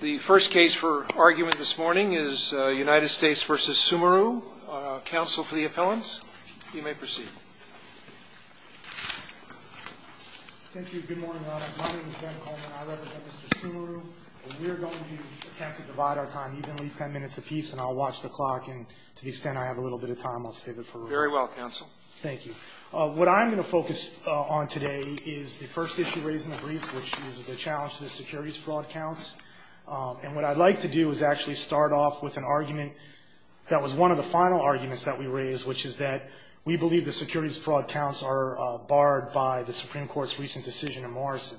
The first case for argument this morning is United States v. Sumeru. Counsel for the appellants, you may proceed. Thank you. Good morning, Your Honor. My name is Ben Coleman. I represent Mr. Sumeru. We're going to attempt to divide our time evenly, ten minutes apiece, and I'll watch the clock. And to the extent I have a little bit of time, I'll save it for later. Very well, counsel. Thank you. What I'm going to focus on today is the first issue raised in the brief, which is the challenge to the securities fraud counts. And what I'd like to do is actually start off with an argument that was one of the final arguments that we raised, which is that we believe the securities fraud counts are barred by the Supreme Court's recent decision in Morrison.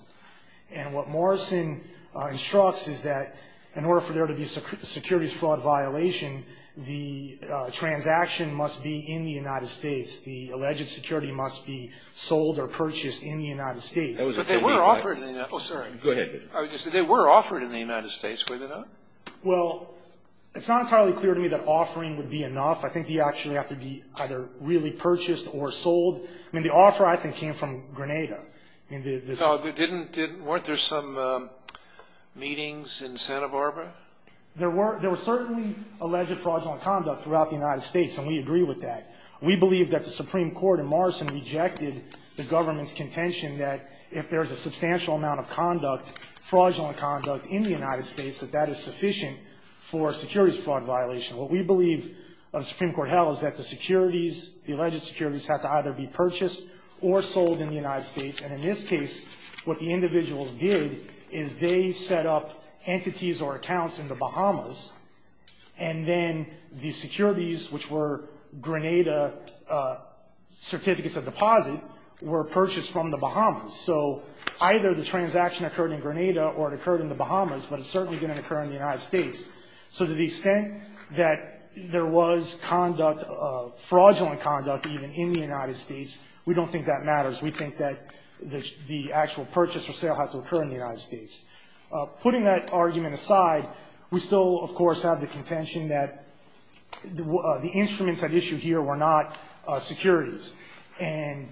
And what Morrison instructs is that in order for there to be a securities fraud violation, the transaction must be in the United States. The alleged security must be sold or purchased in the United States. But they were offered in the United States. Go ahead. They were offered in the United States, were they not? Well, it's not entirely clear to me that offering would be enough. I think they actually have to be either really purchased or sold. I mean, the offer, I think, came from Grenada. Weren't there some meetings in Santa Barbara? There were certainly alleged fraudulent conduct throughout the United States, and we agree with that. We believe that the Supreme Court in Morrison rejected the government's contention that if there is a substantial amount of conduct, fraudulent conduct, in the United States, that that is sufficient for a securities fraud violation. What we believe of the Supreme Court held is that the securities, the alleged securities, have to either be purchased or sold in the United States. And in this case, what the individuals did is they set up entities or accounts in the Bahamas, and then the securities, which were Grenada certificates of deposit, were purchased from the Bahamas. So either the transaction occurred in Grenada or it occurred in the Bahamas, but it certainly didn't occur in the United States. So to the extent that there was conduct, fraudulent conduct, even, in the United States, we don't think that matters. We think that the actual purchase or sale had to occur in the United States. Putting that argument aside, we still, of course, have the contention that the instruments at issue here were not securities. And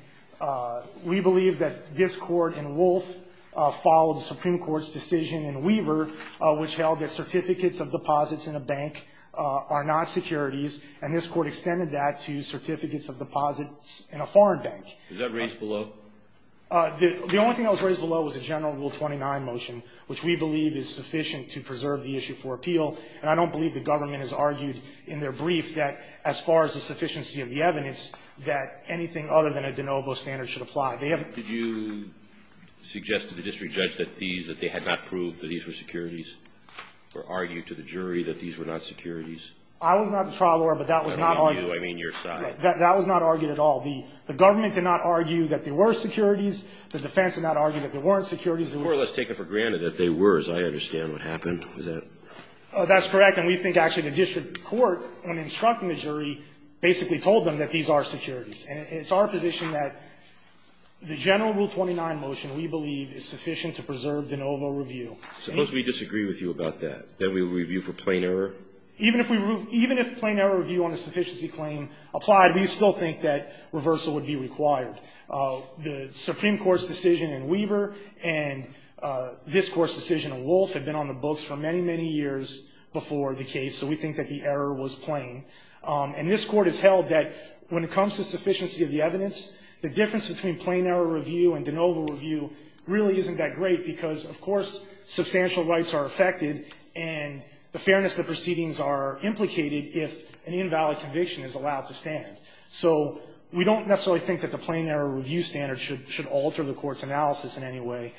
we believe that this Court in Wolf followed the Supreme Court's decision in Weaver, which held that certificates of deposits in a bank are not securities, and this Court extended that to certificates of deposits in a foreign bank. Is that raised below? The only thing that was raised below was a general Rule 29 motion, which we believe is sufficient to preserve the issue for appeal. And I don't believe the government has argued in their brief that, as far as the sufficiency of the evidence, that anything other than a de novo standard should apply. They haven't ---- Did you suggest to the district judge that these, that they had not proved that these were securities, or argue to the jury that these were not securities? I was not the trial lawyer, but that was not argued. I mean you. I mean your side. That was not argued at all. The government did not argue that they were securities. The defense did not argue that they weren't securities. They were more or less taken for granted that they were, as I understand what happened. Is that? That's correct. And we think actually the district court, when instructing the jury, basically told them that these are securities. And it's our position that the general Rule 29 motion, we believe, is sufficient to preserve de novo review. Suppose we disagree with you about that, that we review for plain error? Even if we ---- even if plain error review on a sufficiency claim applied, we still think that reversal would be required. The Supreme Court's decision in Weaver and this Court's decision in Wolf have been on the books for many, many years before the case, so we think that the error was plain. And this Court has held that when it comes to sufficiency of the evidence, the difference between plain error review and de novo review really isn't that great, because, of course, substantial rights are affected and the fairness of the proceedings are implicated if an invalid conviction is allowed to stand. So we don't necessarily think that the plain error review standard should alter the Court's analysis in any way.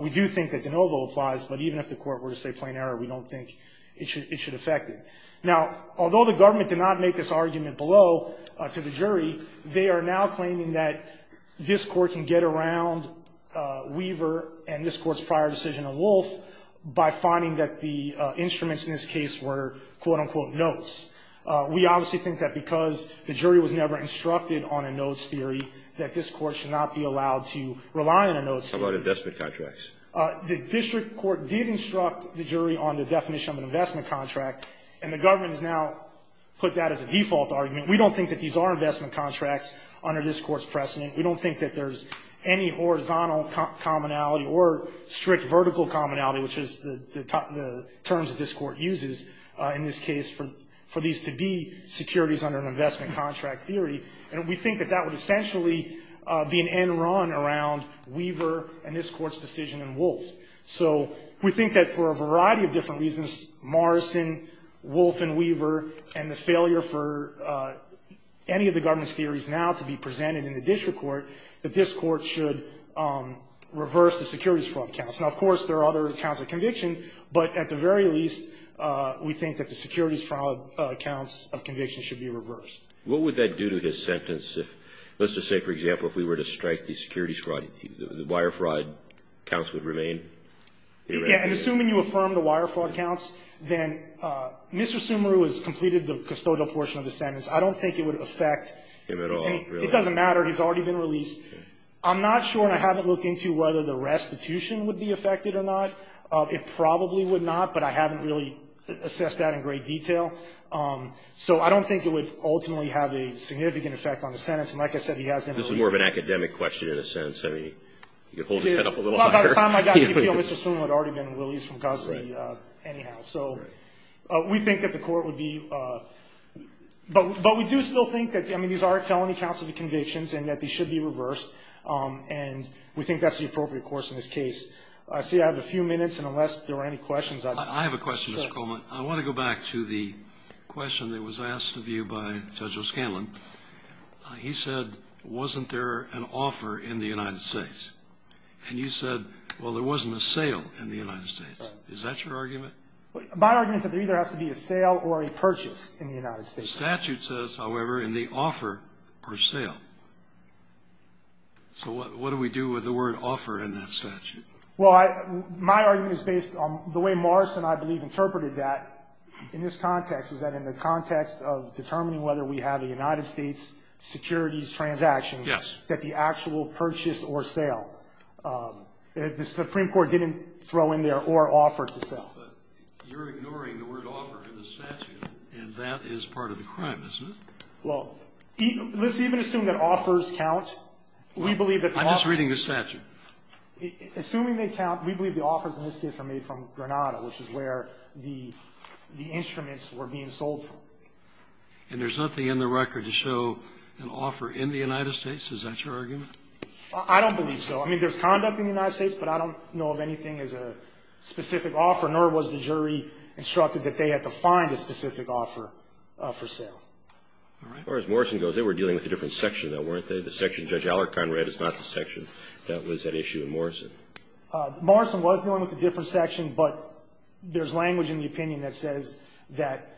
We do think that de novo applies, but even if the Court were to say plain error, we don't think it should affect it. Now, although the government did not make this argument below to the jury, they are now claiming that this Court can get around Weaver and this Court's prior decision on Wolf by finding that the instruments in this case were, quote, unquote, notes. We obviously think that because the jury was never instructed on a notes theory, that this Court should not be allowed to rely on a notes theory. How about investment contracts? The district court did instruct the jury on the definition of an investment contract, and the government has now put that as a default argument. We don't think that these are investment contracts under this Court's precedent. We don't think that there's any horizontal commonality or strict vertical commonality, which is the terms that this Court uses in this case for these to be securities under an investment contract theory. And we think that that would essentially be an end run around Weaver and this Court's decision in Wolf. So we think that for a variety of different reasons, Morrison, Wolf, and Weaver, and the failure for any of the government's theories now to be presented in the district court, that this Court should reverse the securities fraud counts. Now, of course, there are other counts of conviction, but at the very least, we think that the securities fraud counts of conviction should be reversed. What would that do to his sentence if, let's just say, for example, if we were to strike the securities fraud, the wire fraud counts would remain? Yeah. And assuming you affirm the wire fraud counts, then Mr. Sumaru has completed the custodial portion of the sentence. I don't think it would affect him at all. It doesn't matter. He's already been released. I'm not sure, and I haven't looked into whether the restitution would be affected or not. It probably would not, but I haven't really assessed that in great detail. So I don't think it would ultimately have a significant effect on the sentence. And like I said, he has been released. This is more of an academic question in a sense. I mean, you could hold his head up a little higher. By the time I got here, Mr. Sumaru had already been released from custody anyhow. Right. So we think that the court would be – but we do still think that, I mean, these are felony counts of convictions and that they should be reversed, and we think that's the appropriate course in this case. I see I have a few minutes, and unless there are any questions, I – I have a question, Mr. Coleman. Sure. I want to go back to the question that was asked of you by Judge O'Scanlan. He said, wasn't there an offer in the United States? And you said, well, there wasn't a sale in the United States. Is that your argument? My argument is that there either has to be a sale or a purchase in the United States. The statute says, however, in the offer or sale. So what do we do with the word offer in that statute? Well, I – my argument is based on the way Morris and I, I believe, interpreted that in this context, is that in the context of determining whether we have a United States securities transaction. Yes. That the actual purchase or sale, the Supreme Court didn't throw in there or offer to sell. But you're ignoring the word offer in the statute, and that is part of the crime, isn't it? Well, let's even assume that offers count. I'm just reading the statute. Assuming they count, we believe the offers in this case are made from Granada, which is where the instruments were being sold from. And there's nothing in the record to show an offer in the United States? Is that your argument? I don't believe so. I mean, there's conduct in the United States, but I don't know of anything as a specific offer, nor was the jury instructed that they had to find a specific offer for sale. All right. As far as Morrison goes, they were dealing with a different section, though, weren't they? The section Judge Allerton read is not the section that was at issue in Morrison. Morrison was dealing with a different section, but there's language in the opinion that says that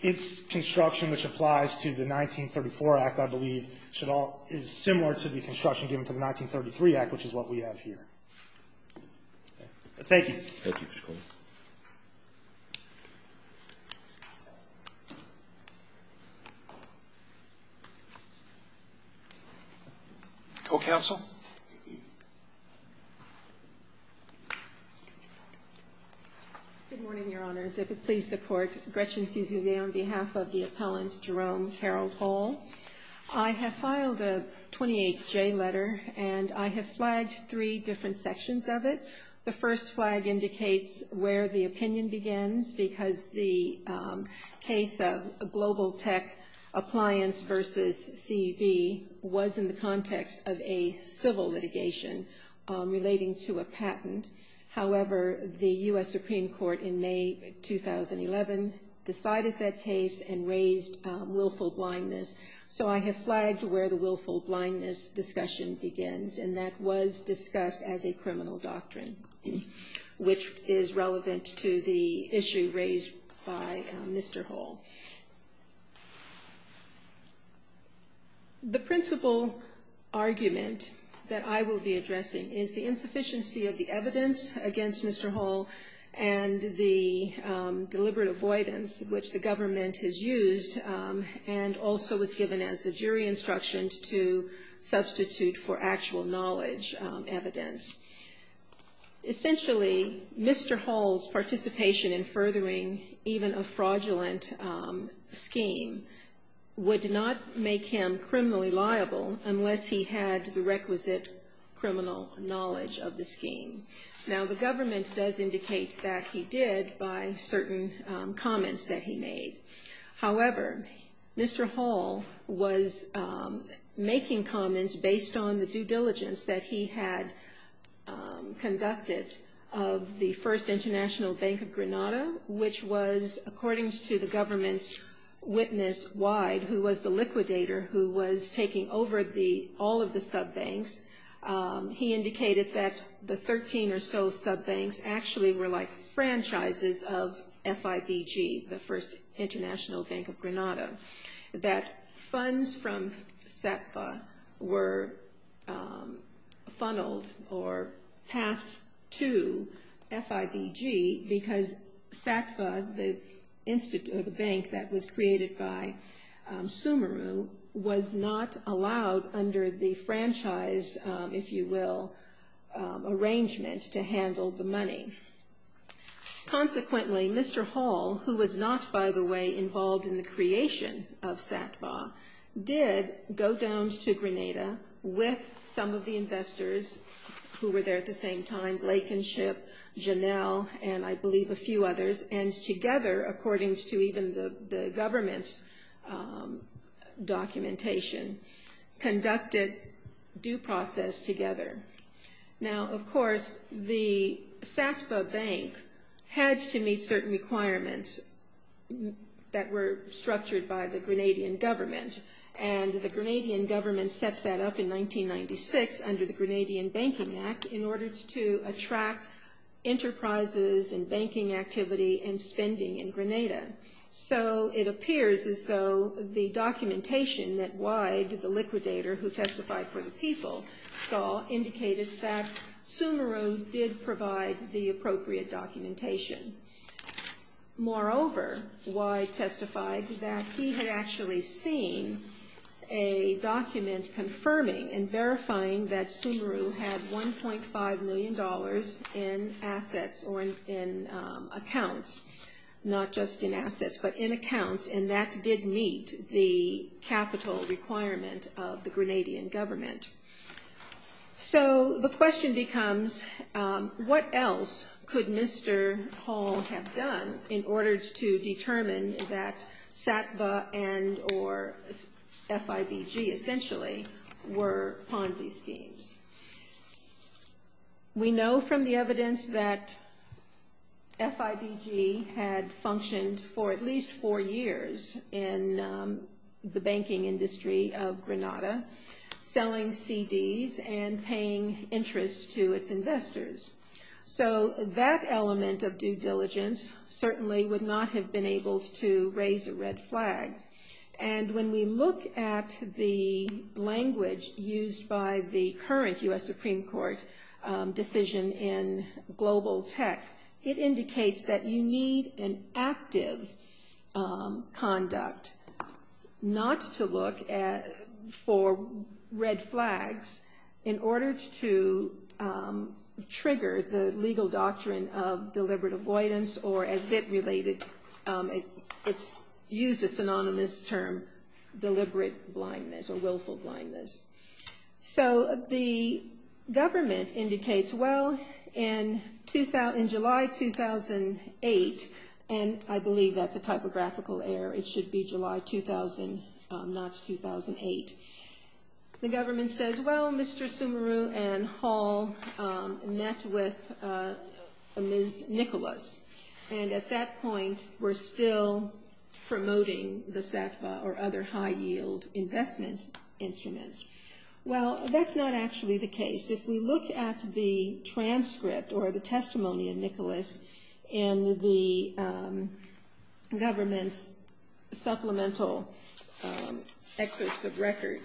its construction, which applies to the 1934 Act, I believe, is similar to the construction given to the 1933 Act, which is what we have here. Thank you. Thank you, Mr. Coleman. Co-counsel? Good morning, Your Honors. If it please the Court, Gretchen Fusilier on behalf of the appellant, Jerome Carroll-Pole. I have filed a 28-J letter, and I have flagged three different sections of it. The first flag indicates where the opinion begins, because the case of Global Tech Appliance v. CB was in the context of a civil litigation relating to a patent. However, the U.S. Supreme Court in May 2011 decided that case and raised willful blindness. So I have flagged where the willful blindness discussion begins, and that was discussed as a criminal doctrine, which is relevant to the issue raised by Mr. Hull. The principal argument that I will be addressing is the insufficiency of the evidence against Mr. Hull and the deliberate avoidance which the government has used and also was given as a jury instruction to substitute for actual knowledge evidence. Essentially, Mr. Hull's participation in furthering even a fraudulent scheme would not make him criminally liable unless he had the requisite criminal knowledge of the scheme. Now, the government does indicate that he did by certain comments that he made. However, Mr. Hull was making comments based on the due diligence that he had conducted of the First International Bank of Granada, which was, according to the government's witness, Wyde, who was the liquidator who was taking over all of the sub-banks. He indicated that the 13 or so sub-banks actually were like franchises of FIBG, the First International Bank of Granada, that funds from Satva were funneled or passed to FIBG because Satva, the bank that was created by Sumeru, was not allowed under the franchise, if you will, arrangement to handle the money. Consequently, Mr. Hull, who was not, by the way, involved in the creation of Satva, did go down to Granada with some of the investors who were there at the same time, Blakenship, Janelle, and I believe a few others, and together, according to even the government's documentation, conducted due process together. Now, of course, the Satva Bank had to meet certain requirements that were structured by the Granadian government, and the Granadian government set that up in 1996 under the Granadian Banking Act in order to attract enterprises and banking activity and spending in Granada. So it appears as though the documentation that Wyde, the liquidator who testified for the people, saw indicated that Sumeru did provide the appropriate documentation. Moreover, Wyde testified that he had actually seen a document confirming and verifying that Sumeru had $1.5 million in assets or in accounts, not just in assets, but in accounts, and that So the question becomes, what else could Mr. Hull have done in order to determine that Satva and or FIBG, essentially, were Ponzi schemes? We know from the evidence that FIBG had functioned for at least four years in the banking industry of Granada, selling CDs and paying interest to its investors. So that element of due diligence certainly would not have been able to raise a red flag. And when we look at the language used by the current U.S. Supreme Court decision in global tech, it indicates that you need an active conduct not to look for red flags in order to trigger the legal doctrine of deliberate avoidance or, as it related, it's used a synonymous term, deliberate blindness or willful blindness. So the government indicates, well, in July 2008, and I believe that's a typographical error. It should be July 2000, not 2008. The government says, well, Mr. Sumeru and Hull met with Ms. Nicholas. And at that point, we're still promoting the Satva or other high-yield investment instruments. Well, that's not actually the case. If we look at the transcript or the testimony of Nicholas in the government's supplemental excerpts of record,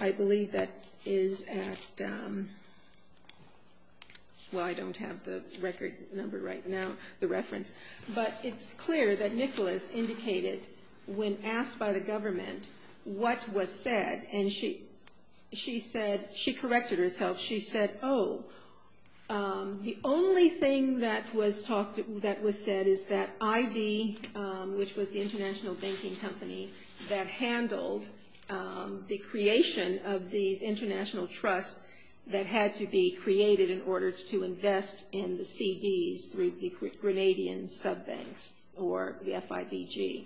I believe that is at – well, I don't have the record number right now, the reference. But it's clear that Nicholas indicated when asked by the government what was said, and she said – she corrected herself. She said, oh, the only thing that was said is that IB, which was the international banking company that handled the creation of these international trusts that had to be created in order to invest in the CDs through the Grenadian sub-banks or the FIBG.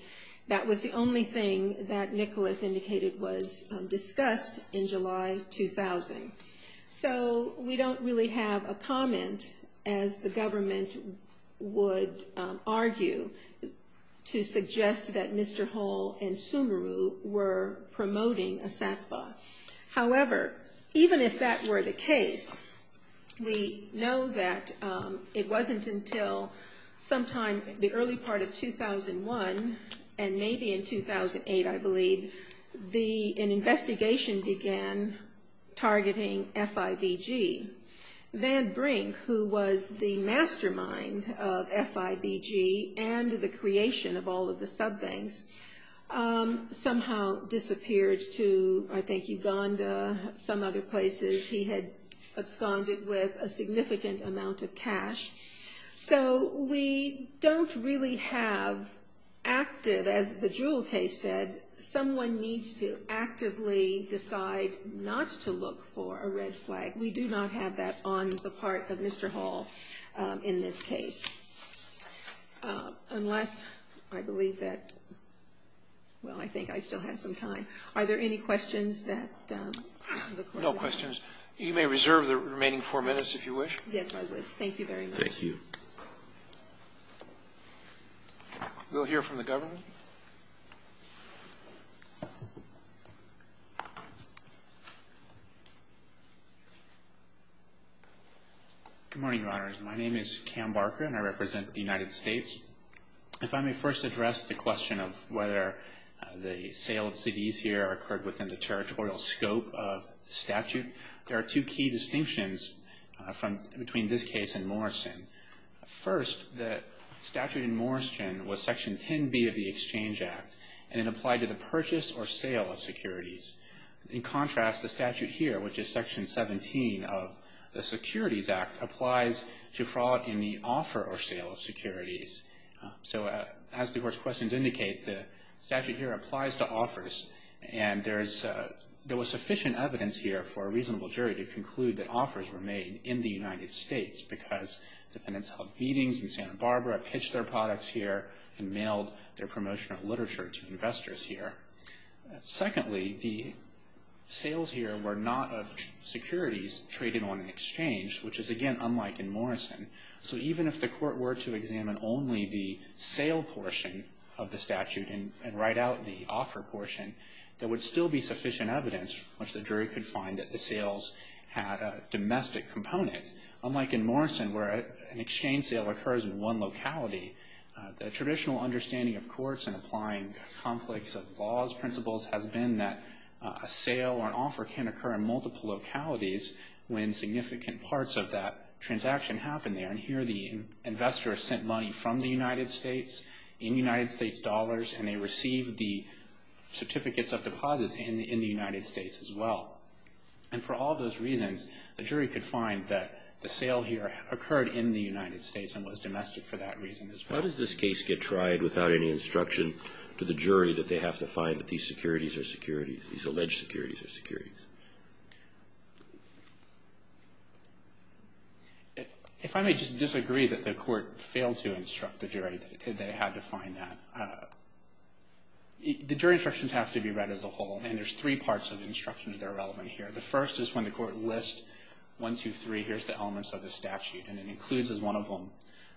That was the only thing that Nicholas indicated was discussed in July 2000. So we don't really have a comment, as the government would argue, to suggest that Mr. Hull and Sumeru were promoting a Satva. However, even if that were the case, we know that it wasn't until sometime in the early part of 2001, and maybe in 2008, I believe, an investigation began targeting FIBG. Van Brink, who was the mastermind of FIBG and the creation of all of the sub-banks, somehow disappeared to, I think, Uganda, some other places. He had absconded with a significant amount of cash. So we don't really have active, as the Jewell case said, someone needs to actively decide not to look for a red flag. We do not have that on the part of Mr. Hull in this case. Unless, I believe that – well, I think I still have some time. Are there any questions that the court has? No questions. You may reserve the remaining four minutes, if you wish. Yes, I would. Thank you very much. Thank you. We'll hear from the government. Good morning, Your Honors. My name is Cam Barker, and I represent the United States. If I may first address the question of whether the sale of CDs here occurred within the First, the statute in Morrison was Section 10B of the Exchange Act, and it applied to the purchase or sale of securities. In contrast, the statute here, which is Section 17 of the Securities Act, applies to fraud in the offer or sale of securities. So as the court's questions indicate, the statute here applies to offers, and there was sufficient evidence here for a reasonable jury to conclude that offers were made in the United States because dependents held meetings in Santa Barbara, pitched their products here, and mailed their promotional literature to investors here. Secondly, the sales here were not of securities traded on an exchange, which is, again, unlike in Morrison. So even if the court were to examine only the sale portion of the statute and write out the offer portion, there would still be sufficient evidence which the jury could find that the sales had a domestic component. Unlike in Morrison, where an exchange sale occurs in one locality, the traditional understanding of courts and applying conflicts of laws principles has been that a sale or an offer can occur in multiple localities when significant parts of that transaction happen there. And here the investor sent money from the United States in United States dollars, and they received the certificates of deposits in the United States as well. And for all those reasons, the jury could find that the sale here occurred in the United States and was domestic for that reason as well. How does this case get tried without any instruction to the jury that they have to find that these securities are securities, these alleged securities are securities? If I may just disagree that the court failed to instruct the jury that it had to find that. The jury instructions have to be read as a whole, and there's three parts of the instruction that are relevant here. The first is when the court lists one, two, three, here's the elements of the statute, and it includes as one of them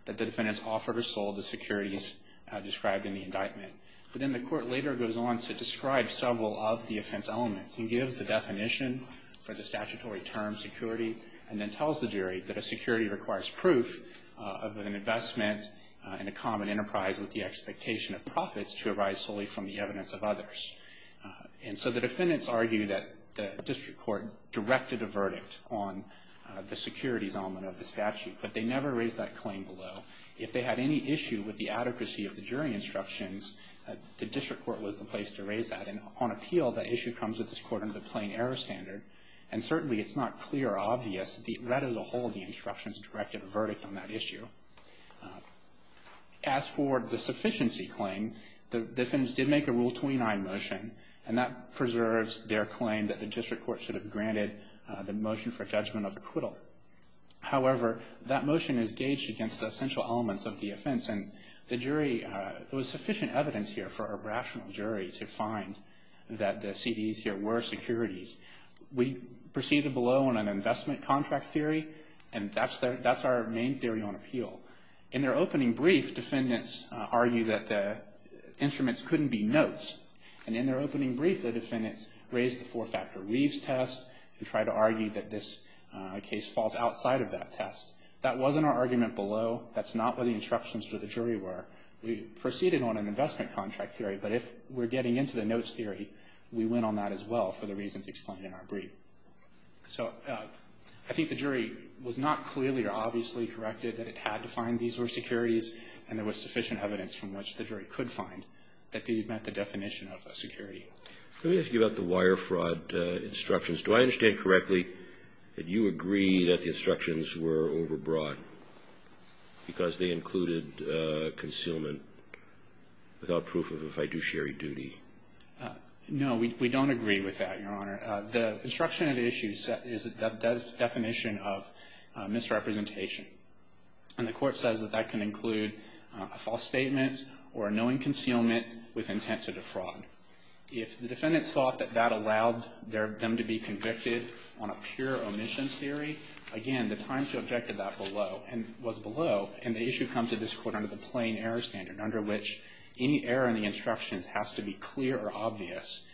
that the defendants offered or sold the securities described in the indictment. But then the court later goes on to describe several of the offense elements and gives the definition for the statutory term security and then tells the jury that a security requires proof of an investment in a common enterprise with the expectation of profits to arise solely from the evidence of others. And so the defendants argue that the district court directed a verdict on the securities element of the statute, but they never raised that claim below. If they had any issue with the adequacy of the jury instructions, the district court was the place to raise that. And on appeal, that issue comes with this court under the plain error standard, and certainly it's not clear or obvious that read as a whole the instructions directed a verdict on that issue. As for the sufficiency claim, the defendants did make a Rule 29 motion, and that preserves their claim that the district court should have granted the motion for judgment of acquittal. However, that motion is gauged against the essential elements of the offense, and the jury, there was sufficient evidence here for a rational jury to find that the CDs here were securities, we proceeded below on an investment contract theory, and that's our main theory on appeal. In their opening brief, defendants argue that the instruments couldn't be notes. And in their opening brief, the defendants raised the four-factor Weaves test and tried to argue that this case falls outside of that test. That wasn't our argument below. That's not what the instructions to the jury were. We proceeded on an investment contract theory, but if we're getting into the notes theory, we went on that as well for the reasons explained in our brief. So I think the jury was not clearly or obviously corrected that it had to find these were securities, and there was sufficient evidence from which the jury could find that these met the definition of a security. Let me ask you about the wire fraud instructions. Do I understand correctly that you agree that the instructions were overbroad because they included concealment without proof of a fiduciary duty? No, we don't agree with that, Your Honor. The instruction at issue is the definition of misrepresentation, and the Court says that that can include a false statement or a knowing concealment with intent to defraud. If the defendants thought that that allowed them to be convicted on a pure omission theory, again, the time to object to that was below, and the issue comes to this Court under the plain error standard, under which any error in the instructions has to be clear or obvious.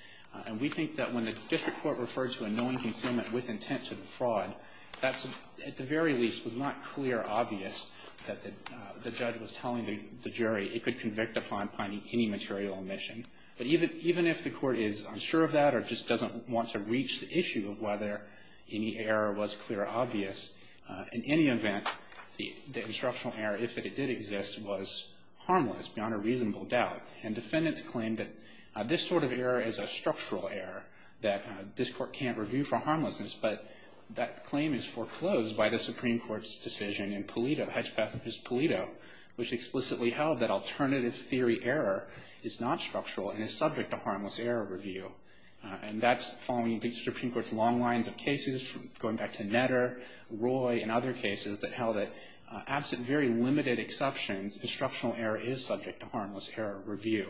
And we think that when the district court refers to a knowing concealment with intent to defraud, that at the very least was not clear or obvious that the judge was telling the jury it could convict upon finding any material omission. But even if the Court is unsure of that or just doesn't want to reach the issue of whether any error was clear or obvious, in any event, the instructional error, if it did exist, was harmless beyond a reasonable doubt. And defendants claim that this sort of error is a structural error, that this Court can't review for harmlessness, but that claim is foreclosed by the Supreme Court's decision in Polito, Hedgepeth v. Polito, which explicitly held that alternative theory error is not structural and is subject to harmless error review. And that's following the Supreme Court's long lines of cases, going back to Netter, Roy, and other cases that held that absent very limited exceptions, instructional error is subject to harmless error review.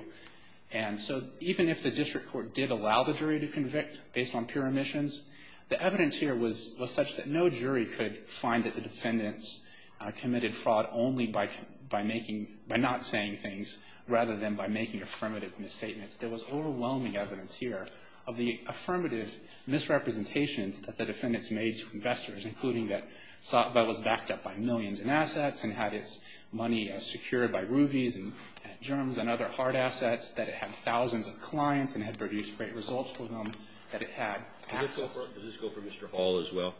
And so even if the district court did allow the jury to convict based on pure omissions, the evidence here was such that no jury could find that the defendants committed fraud only by making, by not saying things, rather than by making affirmative misstatements. There was overwhelming evidence here of the affirmative misrepresentations that the defendants made to investors, including that SOTVA was backed up by millions in assets and had its money secured by rubies and germs and other hard assets, that it had thousands of clients and had produced great results for them, that it had. Does this go for Mr. Hall as well?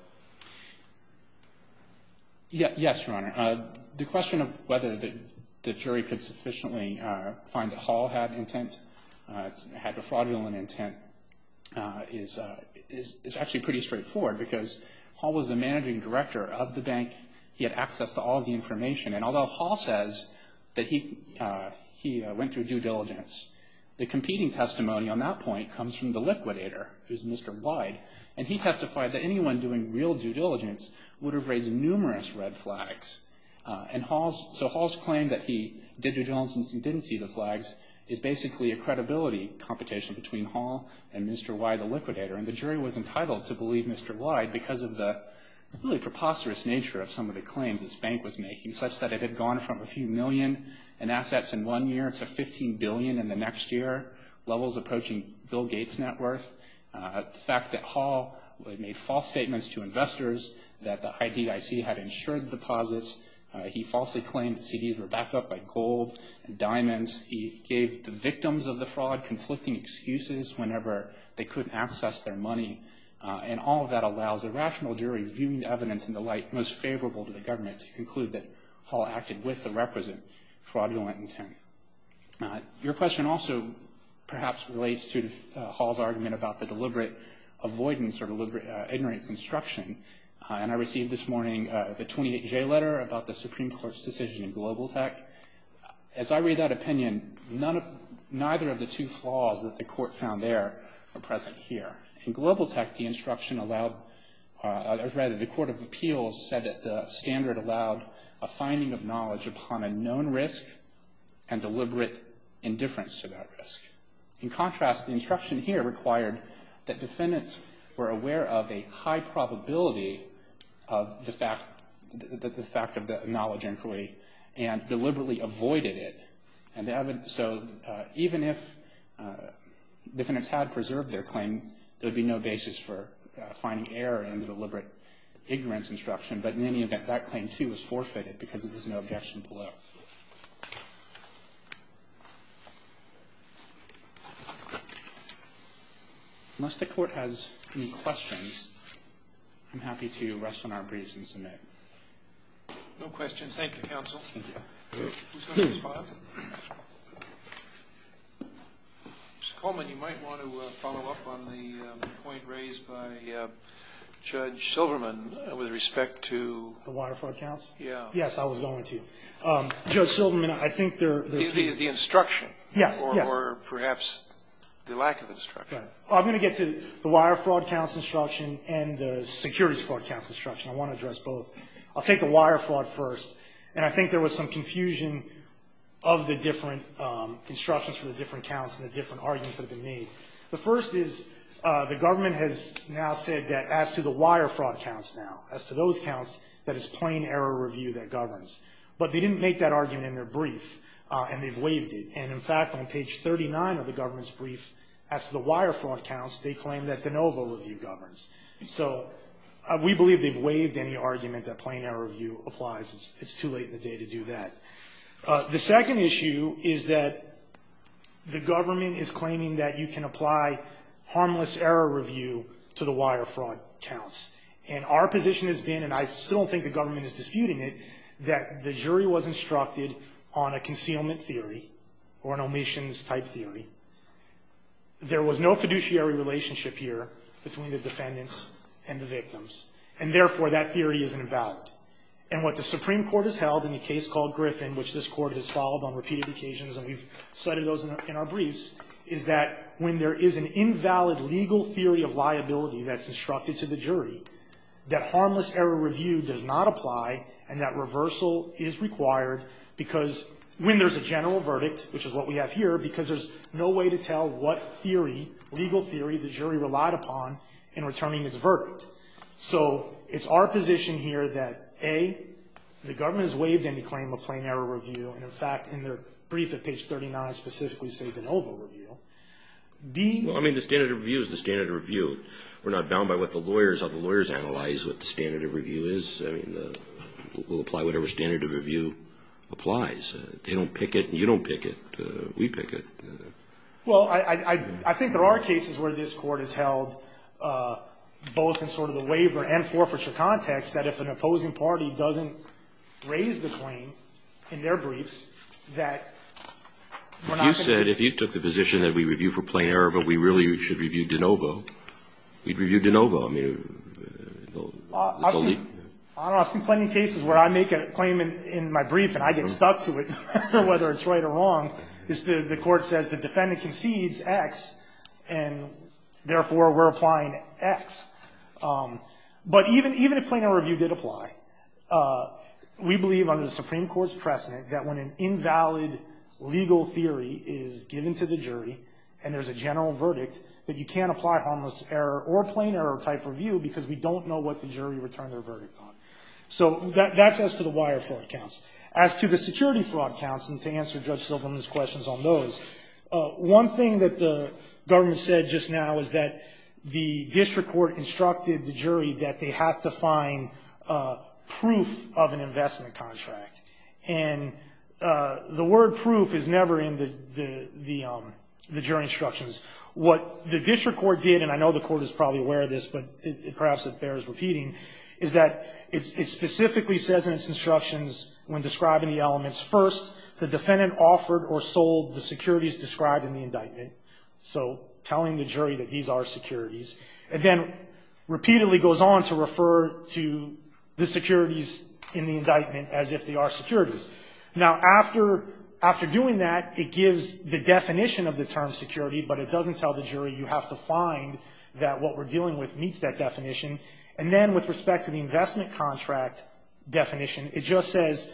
Yes, Your Honor. The question of whether the jury could sufficiently find that Hall had intent, had a fraudulent intent, is actually pretty straightforward because Hall was the managing director of the bank. He had access to all of the information. And although Hall says that he went through due diligence, the competing testimony on that point comes from the liquidator, who is Mr. Wyde. And he testified that anyone doing real due diligence would have raised numerous red flags. And so Hall's claim that he did due diligence and didn't see the flags is basically a credibility competition between Hall and Mr. Wyde, the liquidator. And the jury was entitled to believe Mr. Wyde because of the really preposterous nature of some of the claims this bank was making, such that it had gone from a few million in assets in one year to 15 billion in the next year, levels approaching Bill Gates' net worth. The fact that Hall made false statements to investors that the IDIC had insured the deposits. He falsely claimed that CDs were backed up by gold and diamonds. He gave the victims of the fraud conflicting excuses whenever they couldn't access their money. And all of that allows a rational jury, viewing the evidence in the light most favorable to the government, to conclude that Hall acted with the requisite fraudulent intent. Your question also perhaps relates to Hall's argument about the deliberate avoidance or ignorance instruction. And I received this morning the 28J letter about the Supreme Court's decision in Global Tech. As I read that opinion, neither of the two flaws that the court found there are present here. In Global Tech, the instruction allowed, or rather the Court of Appeals said that the standard allowed a finding of knowledge upon a known risk and deliberate indifference to that risk. In contrast, the instruction here required that defendants were aware of a high probability of the fact of the knowledge inquiry and deliberately avoided it. And so even if defendants had preserved their claim, there would be no basis for finding error in the deliberate ignorance instruction. But in any event, that claim, too, was forfeited because there was no objection below. Unless the Court has any questions, I'm happy to rest on our briefs and submit. No questions. Thank you, Counsel. Who's going to respond? Mr. Coleman, you might want to follow up on the point raised by Judge Silverman with respect to The Wire Fraud Council? Yeah. Yes, I was going to. Judge Silverman, I think there The instruction. Yes, yes. Or perhaps the lack of instruction. I'm going to get to the Wire Fraud Council instruction and the Securities Fraud Council instruction. I want to address both. I'll take the Wire Fraud first, and I think there was some confusion of the different instructions for the different counts and the different arguments that have been made. The first is the government has now said that as to the Wire Fraud counts now, as to those counts, that it's plain error review that governs. But they didn't make that argument in their brief, and they've waived it. And in fact, on page 39 of the government's brief, as to the Wire Fraud counts, they claim that de novo review governs. So we believe they've waived any argument that plain error review applies. It's too late in the day to do that. The second issue is that the government is claiming that you can apply harmless error review to the Wire Fraud counts. And our position has been, and I still don't think the government is disputing it, that the jury was instructed on a concealment theory or an omissions-type theory. There was no fiduciary relationship here between the defendants and the victims. And therefore, that theory is invalid. And what the Supreme Court has held in a case called Griffin, which this Court has followed on repeated occasions, and we've cited those in our briefs, is that when there is an invalid legal theory of liability that's instructed to the jury, that harmless error review does not apply and that reversal is required because when there's a general verdict, which is what we have here, because there's no way to tell what theory, legal theory, the jury relied upon in returning its verdict. So it's our position here that, A, the government has waived any claim of plain error review. And, in fact, in their brief at page 39, specifically say de novo review. Well, I mean, the standard of review is the standard of review. We're not bound by what the lawyers, how the lawyers analyze what the standard of review is. I mean, we'll apply whatever standard of review applies. They don't pick it and you don't pick it. We pick it. Well, I think there are cases where this Court has held, both in sort of the waiver and forfeiture context, that if an opposing party doesn't raise the claim in their briefs, that we're not going to be able to review it. You said if you took the position that we review for plain error, but we really should review de novo, we'd review de novo. I mean, it's a leap. I don't know. I've seen plenty of cases where I make a claim in my brief and I get stuck to it, whether it's right or wrong. The Court says the defendant concedes X, and therefore we're applying X. But even if plain error review did apply, we believe under the Supreme Court's precedent that when an invalid legal theory is given to the jury and there's a general type review, because we don't know what the jury returned their verdict on. So that's as to the wire fraud counts. As to the security fraud counts, and to answer Judge Silverman's questions on those, one thing that the government said just now is that the district court instructed the jury that they have to find proof of an investment contract. And the word proof is never in the jury instructions. What the district court did, and I know the Court is probably aware of this, but perhaps it bears repeating, is that it specifically says in its instructions when describing the elements, first, the defendant offered or sold the securities described in the indictment, so telling the jury that these are securities, and then repeatedly goes on to refer to the securities in the indictment as if they are securities. Now, after doing that, it gives the definition of the term security, but it doesn't tell the jury you have to find that what we're dealing with meets that definition. And then with respect to the investment contract definition, it just says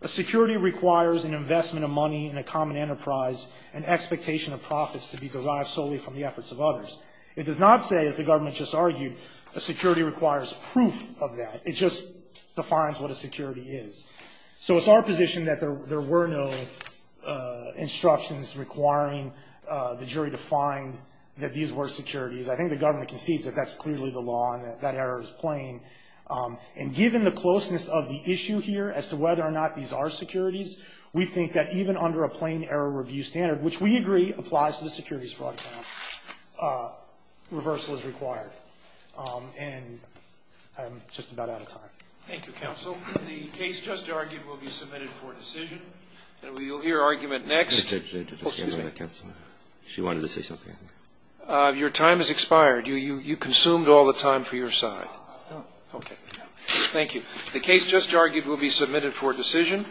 a security requires an investment of money in a common enterprise, an expectation of profits to be derived solely from the efforts of others. It does not say, as the government just argued, a security requires proof of that. It just defines what a security is. So it's our position that there were no instructions requiring the jury to find that these were securities. I think the government concedes that that's clearly the law and that that error is plain. And given the closeness of the issue here as to whether or not these are securities, we think that even under a plain error review standard, which we agree applies to the securities fraud case, reversal is required. And I'm just about out of time. Thank you, counsel. The case just argued will be submitted for decision. And we'll hear argument next. Oh, excuse me. She wanted to say something. Your time has expired. You consumed all the time for your side. Okay. Thank you. The case just argued will be submitted for decision.